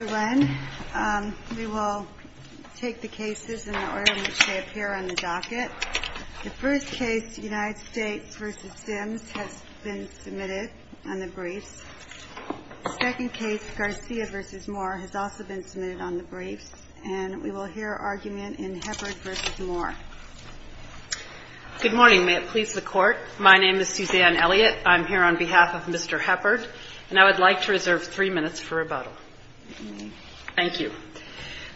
Good morning. May it please the Court. My name is Suzanne Elliott. I'm here on behalf of Mr. Heppard, and I would like to reserve three minutes for rebuttal. Thank you.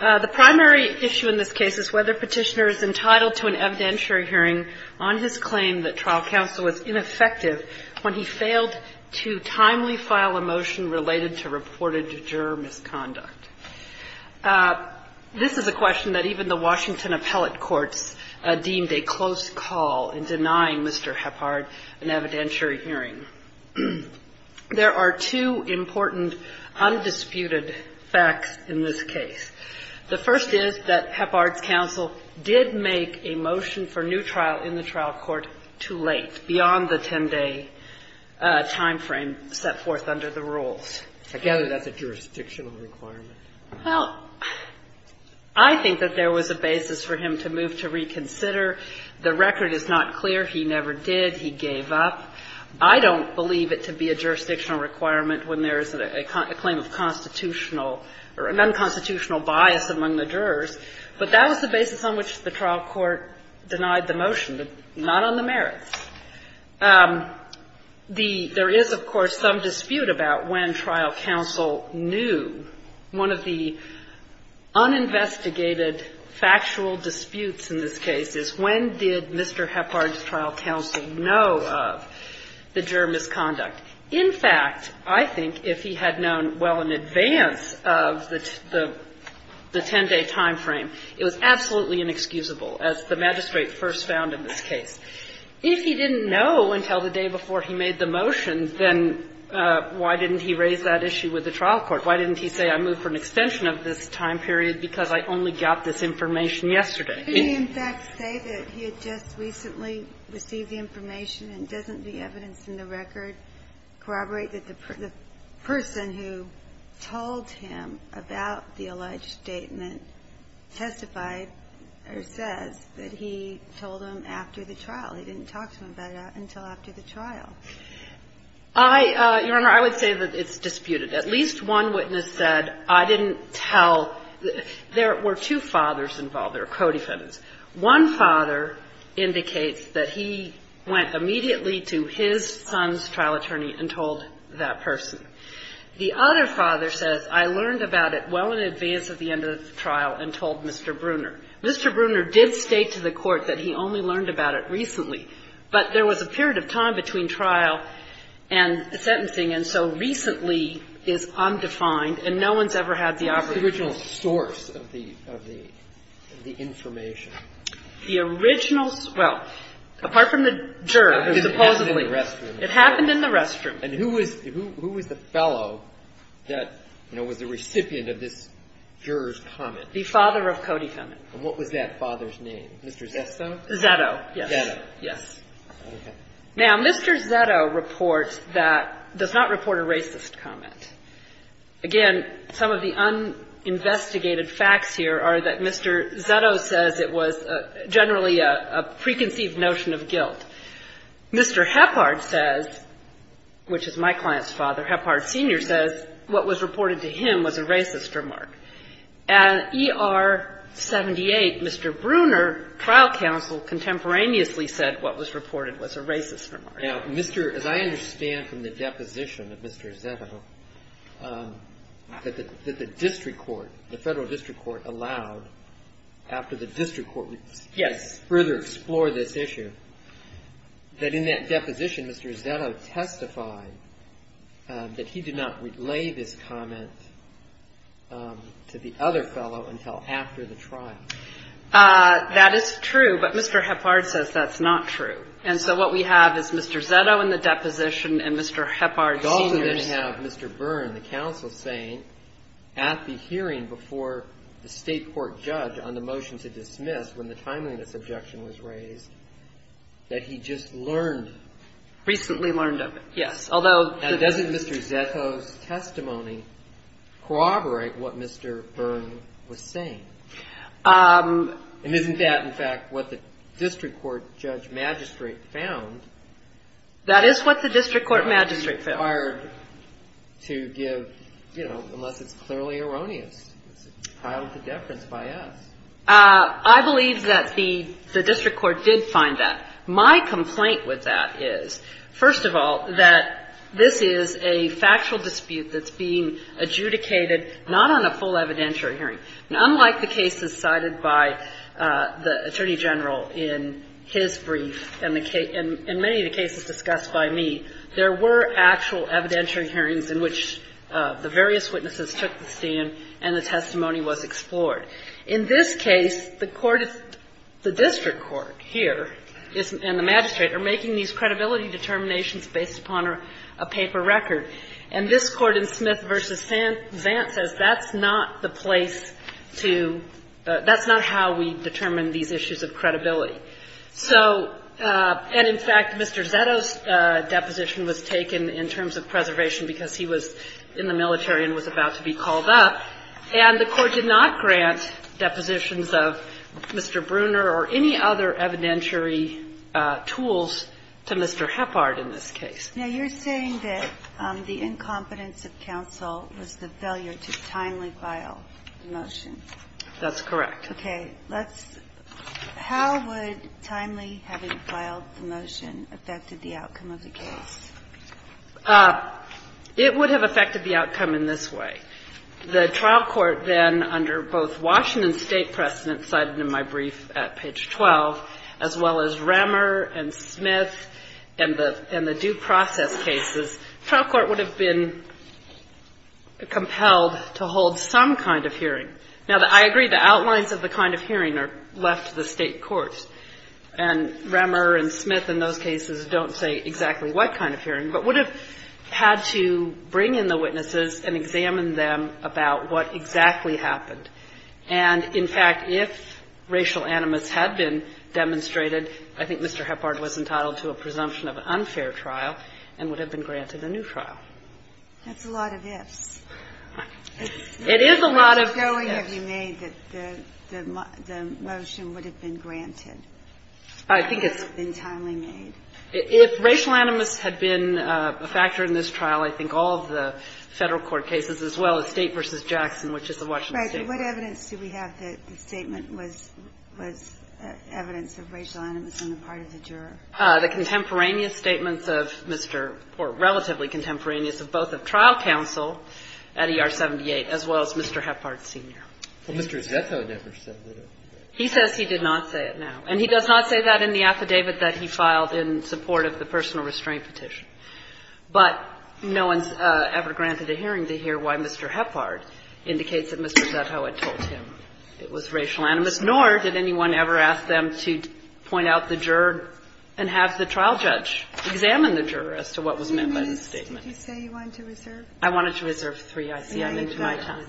The primary issue in this case is whether Petitioner is entitled to an evidentiary hearing on his claim that trial counsel was ineffective when he failed to timely file a motion related to reported juror misconduct. This is a question that even the Washington appellate courts deemed a close call in denying Mr. Heppard an evidentiary hearing. There are two important undisputed facts in this case. The first is that Heppard's counsel did make a motion for new trial in the trial court too late, beyond the 10-day timeframe set forth under the rules. I gather that's a jurisdictional requirement. Well, I think that there was a basis for him to move to reconsider. The record is not clear. He never did. He gave up. I don't believe it to be a jurisdictional requirement when there is a claim of constitutional or an unconstitutional bias among the jurors. But that was the basis on which the trial court denied the motion, but not on the merits. There is, of course, some dispute about when trial counsel knew. One of the uninvestigated factual disputes in this case is when did Mr. Heppard's trial counsel know of the juror misconduct? In fact, I think if he had known well in advance of the 10-day timeframe, it was absolutely inexcusable, as the magistrate first found in this case. If he didn't know until the day before he made the motion, then why didn't he raise that issue with the trial court? Why didn't he say, I move for an extension of this time period because I only got this information yesterday? He did, in fact, say that he had just recently received the information and doesn't the evidence in the record corroborate that the person who told him about the alleged statement testified or says that he told him after the trial. He didn't talk to him about it until after the trial. I, Your Honor, I would say that it's disputed. At least one witness said, I didn't tell. There were two fathers involved. They were co-defendants. One father indicates that he went immediately to his son's trial attorney and told that person. The other father says, I learned about it well in advance of the end of the trial and told Mr. Bruner. Mr. Bruner did state to the court that he only learned about it recently, but there was a period of time between trial and sentencing, and so recently is undefined and no one's ever had the opportunity to know. Roberts. The original source of the information. The original source. Well, apart from the juror, supposedly. It happened in the restroom. It happened in the restroom. And who was the fellow that, you know, was the recipient of this juror's comment? The father of Cody Cummings. And what was that father's name? Mr. Zetto? Zetto, yes. Zetto. Yes. Now, Mr. Zetto reports that, does not report a racist comment. Again, some of the uninvestigated facts here are that Mr. Zetto says it was generally a preconceived notion of guilt. Mr. Heppard says, which is my client's father, Heppard Sr. says what was reported to him was a racist remark. And ER-78, Mr. Bruner, trial counsel, contemporaneously said what was reported was a racist remark. Now, Mr. — as I understand from the deposition of Mr. Zetto, that the district court, the Federal District Court allowed, after the district court — Yes. Further explore this issue, that in that deposition, Mr. Zetto testified that he did not relay this comment to the other fellow until after the trial. That is true. But Mr. Heppard says that's not true. And so what we have is Mr. Zetto in the deposition and Mr. Heppard Sr. We also then have Mr. Byrne, the counsel, saying at the hearing before the state court judge on the motion to dismiss when the timeliness objection was raised, that he just learned — Recently learned of it, yes. Although — Now, doesn't Mr. Zetto's testimony corroborate what Mr. Byrne was saying? And isn't that, in fact, what the district court judge magistrate found? That is what the district court magistrate found. It's hard to give, you know, unless it's clearly erroneous. It's a childhood deference by us. I believe that the district court did find that. My complaint with that is, first of all, that this is a factual dispute that's being adjudicated not on a full evidentiary hearing. Now, unlike the cases cited by the Attorney General in his brief and the case — and many of the cases discussed by me, there were actual evidentiary hearings in which the various witnesses took the stand and the testimony was explored. In this case, the court — the district court here and the magistrate are making these credibility determinations based upon a paper record. And this Court in Smith v. Zant says that's not the place to — that's not how we determine these issues of credibility. So — and, in fact, Mr. Zetto's deposition was taken in terms of preservation because he was in the military and was about to be called up, and the Court did not grant depositions of Mr. Bruner or any other evidentiary tools to Mr. Heppard in this case. Now, you're saying that the incompetence of counsel was the failure to timely file the motion. That's correct. Okay. Let's — how would timely having filed the motion affect the outcome of the case? It would have affected the outcome in this way. The trial court then, under both Washington State precedent cited in my brief at page 12, as well as Remmer and Smith and the due process cases, trial court would have been compelled to hold some kind of hearing. Now, I agree the outlines of the kind of hearing are left to the State courts, and Remmer and Smith in those cases don't say exactly what kind of hearing, but would have had to bring in the witnesses and examine them about what exactly happened. And, in fact, if racial animus had been demonstrated, I think Mr. Heppard was entitled to a presumption of an unfair trial and would have been granted a new trial. That's a lot of ifs. It is a lot of ifs. How much going have you made that the motion would have been granted? I think it's been timely made. If racial animus had been a factor in this trial, I think all of the Federal court cases, as well as State v. Jackson, which is the Washington State court. Right. What evidence do we have that the statement was evidence of racial animus on the part of the juror? The contemporaneous statements of Mr. or relatively contemporaneous of both of trial counsel at ER-78, as well as Mr. Heppard, Sr. Well, Mr. Zeto never said that. He says he did not say it, no. And he does not say that in the affidavit that he filed in support of the personal restraint petition. But no one's ever granted a hearing to hear why Mr. Heppard indicates that Mr. Zeto had told him it was racial animus, nor did anyone ever ask them to point out the juror and have the trial judge examine the juror as to what was meant by the statement. I wanted to reserve three. I see I'm into my time.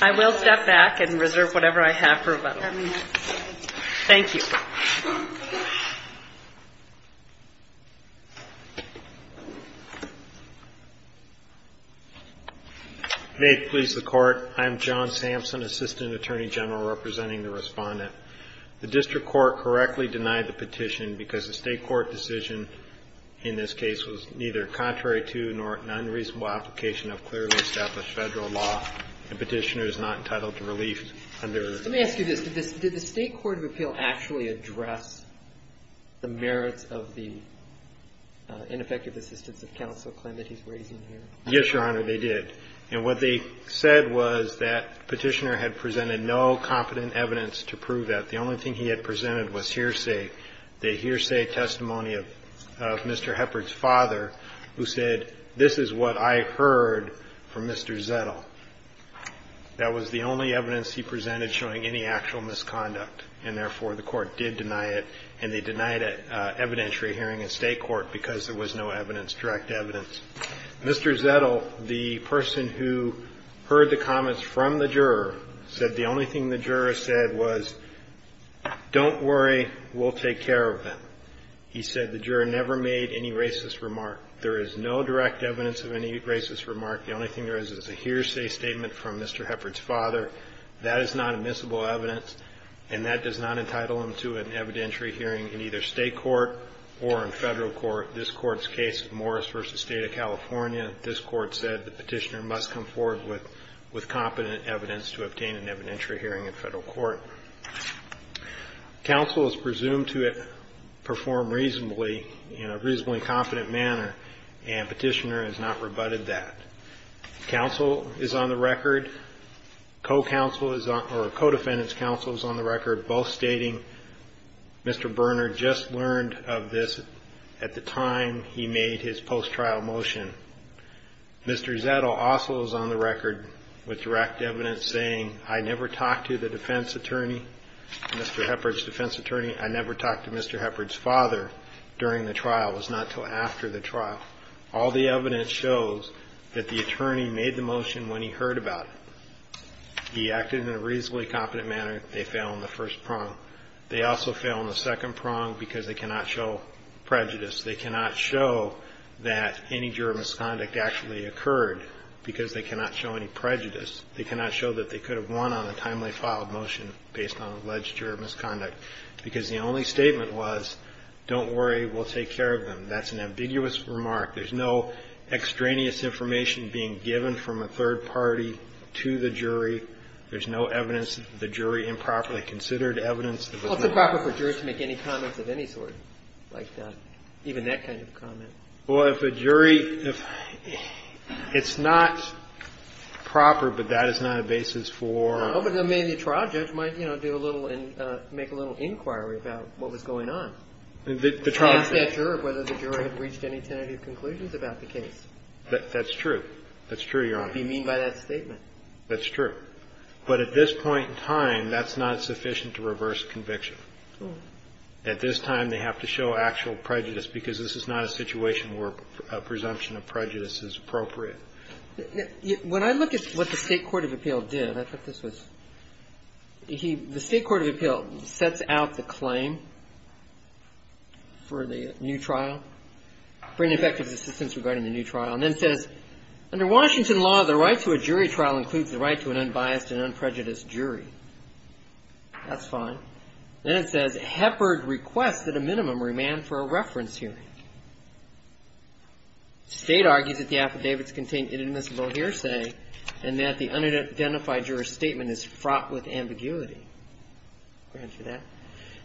I will step back and reserve whatever I have for rebuttal. Thank you. May it please the Court. I'm John Sampson, Assistant Attorney General, representing the Respondent. The district court correctly denied the petition because the State court decision in this case was neither contrary to nor an unreasonable application of clearly established Federal law. The petitioner is not entitled to relief under the State court. Did the District of Appeal actually address the merits of the ineffective assistance of counsel claim that he's raising here? Yes, Your Honor, they did. And what they said was that the petitioner had presented no competent evidence to prove that. The only thing he had presented was hearsay, the hearsay testimony of Mr. Heppard's father, who said, this is what I heard from Mr. Zeto. That was the only evidence he presented showing any actual misconduct. And therefore, the Court did deny it, and they denied it evidentiary hearing in State court because there was no evidence, direct evidence. Mr. Zeto, the person who heard the comments from the juror, said the only thing the juror said was, don't worry, we'll take care of them. He said the juror never made any racist remark. There is no direct evidence of any racist remark. The only thing there is is a hearsay statement from Mr. Heppard's father. That is not admissible evidence, and that does not entitle him to an evidentiary hearing in either State court or in Federal court. This Court's case, Morris v. State of California, this Court said the petitioner must come forward with competent evidence to obtain an evidentiary hearing in Federal court. Counsel is presumed to perform reasonably, in a reasonably competent manner, and petitioner has not rebutted that. Counsel is on the record, co-counsel is on, or co-defendant's counsel is on the record, both stating, Mr. Berner just learned of this at the time he made his post-trial motion. Mr. Zeto also is on the record with direct evidence saying, I never talked to the defense attorney, Mr. Heppard's defense attorney, I never talked to Mr. Heppard's father during the trial. It was not until after the trial. All the evidence shows that the attorney made the motion when he heard about it. He acted in a reasonably competent manner. They fail in the first prong. They also fail in the second prong because they cannot show prejudice. They cannot show that any juror misconduct actually occurred because they cannot show any prejudice. They cannot show that they could have won on a timely filed motion based on their own experience. And so the defense attorney's response is, don't worry, we'll take care of them. That's an ambiguous remark. There's no extraneous information being given from a third party to the jury. There's no evidence that the jury improperly considered evidence that was not. Well, it's improper for jurors to make any comments of any sort, like even that kind of comment. Well, if a jury – it's not proper, but that is not a basis for – Well, but maybe a trial judge might, you know, do a little and make a little inquiry about what was going on. The trial judge – Ask that juror whether the jury had reached any tentative conclusions about the case. That's true. That's true, Your Honor. Be mean by that statement. That's true. But at this point in time, that's not sufficient to reverse conviction. At this time, they have to show actual prejudice because this is not a situation where a presumption of prejudice is appropriate. When I look at what the State Court of Appeal did – I thought this was – the State Court of Appeal sets out the claim for the new trial, for ineffective assistance regarding the new trial, and then says, under Washington law, the right to a jury trial includes the right to an unbiased and unprejudiced jury. That's fine. Then it says, Heppard requests that a minimum remand for a reference hearing. The State argues that the affidavits contain inadmissible hearsay and that the unidentified juror's statement is fraught with ambiguity. Go ahead for that.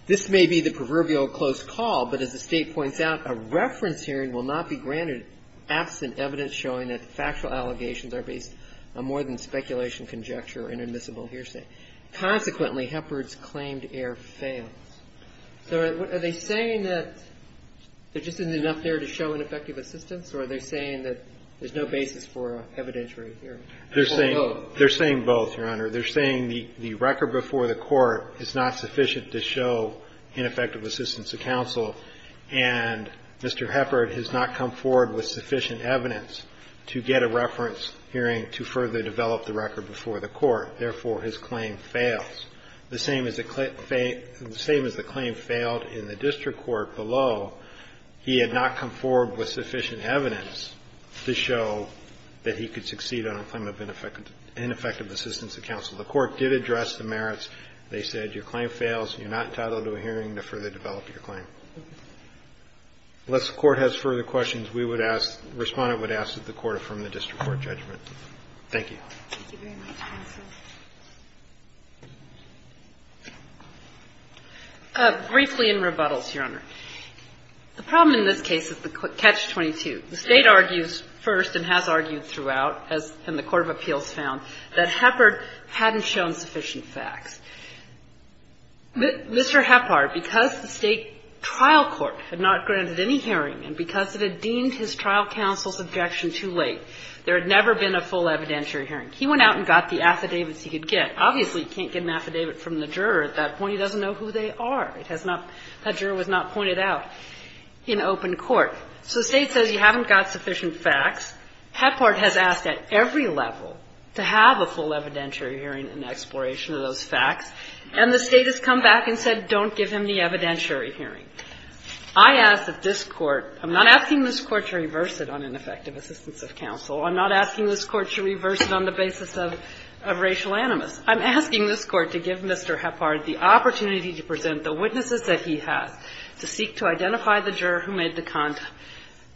This may be the proverbial close call, but as the State points out, a reference hearing will not be granted absent evidence showing that the factual allegations are based on more than speculation, conjecture, or inadmissible hearsay. Consequently, Heppard's claimed error fails. So are they saying that there just isn't enough there to show ineffective assistance, or are they saying that there's no basis for evidentiary hearing? They're saying both, Your Honor. They're saying the record before the court is not sufficient to show ineffective assistance to counsel, and Mr. Heppard has not come forward with sufficient evidence to get a reference hearing to further develop the record before the court. Therefore, his claim fails. The same as the claim failed in the district court below, he had not come forward with sufficient evidence to show that he could succeed on a claim of ineffective assistance to counsel. The court did address the merits. They said your claim fails, you're not entitled to a hearing to further develop your claim. Unless the court has further questions, we would ask, the Respondent would ask that the court affirm the district court judgment. Thank you. Thank you very much, counsel. Briefly in rebuttals, Your Honor. The problem in this case is the catch-22. The State argues first and has argued throughout, as in the court of appeals found, that Heppard hadn't shown sufficient facts. Mr. Heppard, because the State trial court had not granted any hearing and because it had deemed his trial counsel's objection too late, there had never been a full evidentiary hearing. He went out and got the affidavits he could get. Obviously, he can't get an affidavit from the juror at that point. He doesn't know who they are. It has not – that juror was not pointed out in open court. So the State says you haven't got sufficient facts. Heppard has asked at every level to have a full evidentiary hearing in exploration of those facts. And the State has come back and said, don't give him the evidentiary hearing. I ask that this Court – I'm not asking this Court to reverse it on ineffective assistance of counsel. I'm not asking this Court to reverse it on the basis of racial animus. I'm asking this Court to give Mr. Heppard the opportunity to present the witnesses that he has, to seek to identify the juror who made the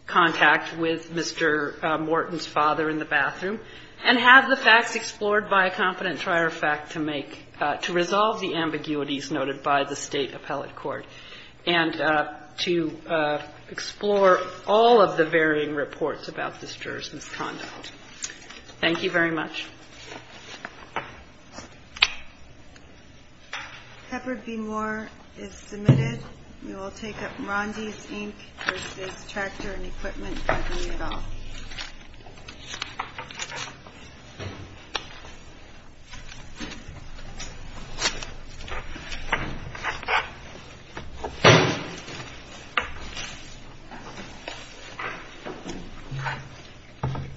contact with Mr. Morton's father in the bathroom, and have the facts explored by a confident trier of fact to make – to resolve the ambiguities noted by the State appellate court, and to explore all of the varying reports about this juror's misconduct. Thank you very much. Heppard v. Moore is submitted. You will take up Morandi's ink, or State's tractor and equipment, by voting it off.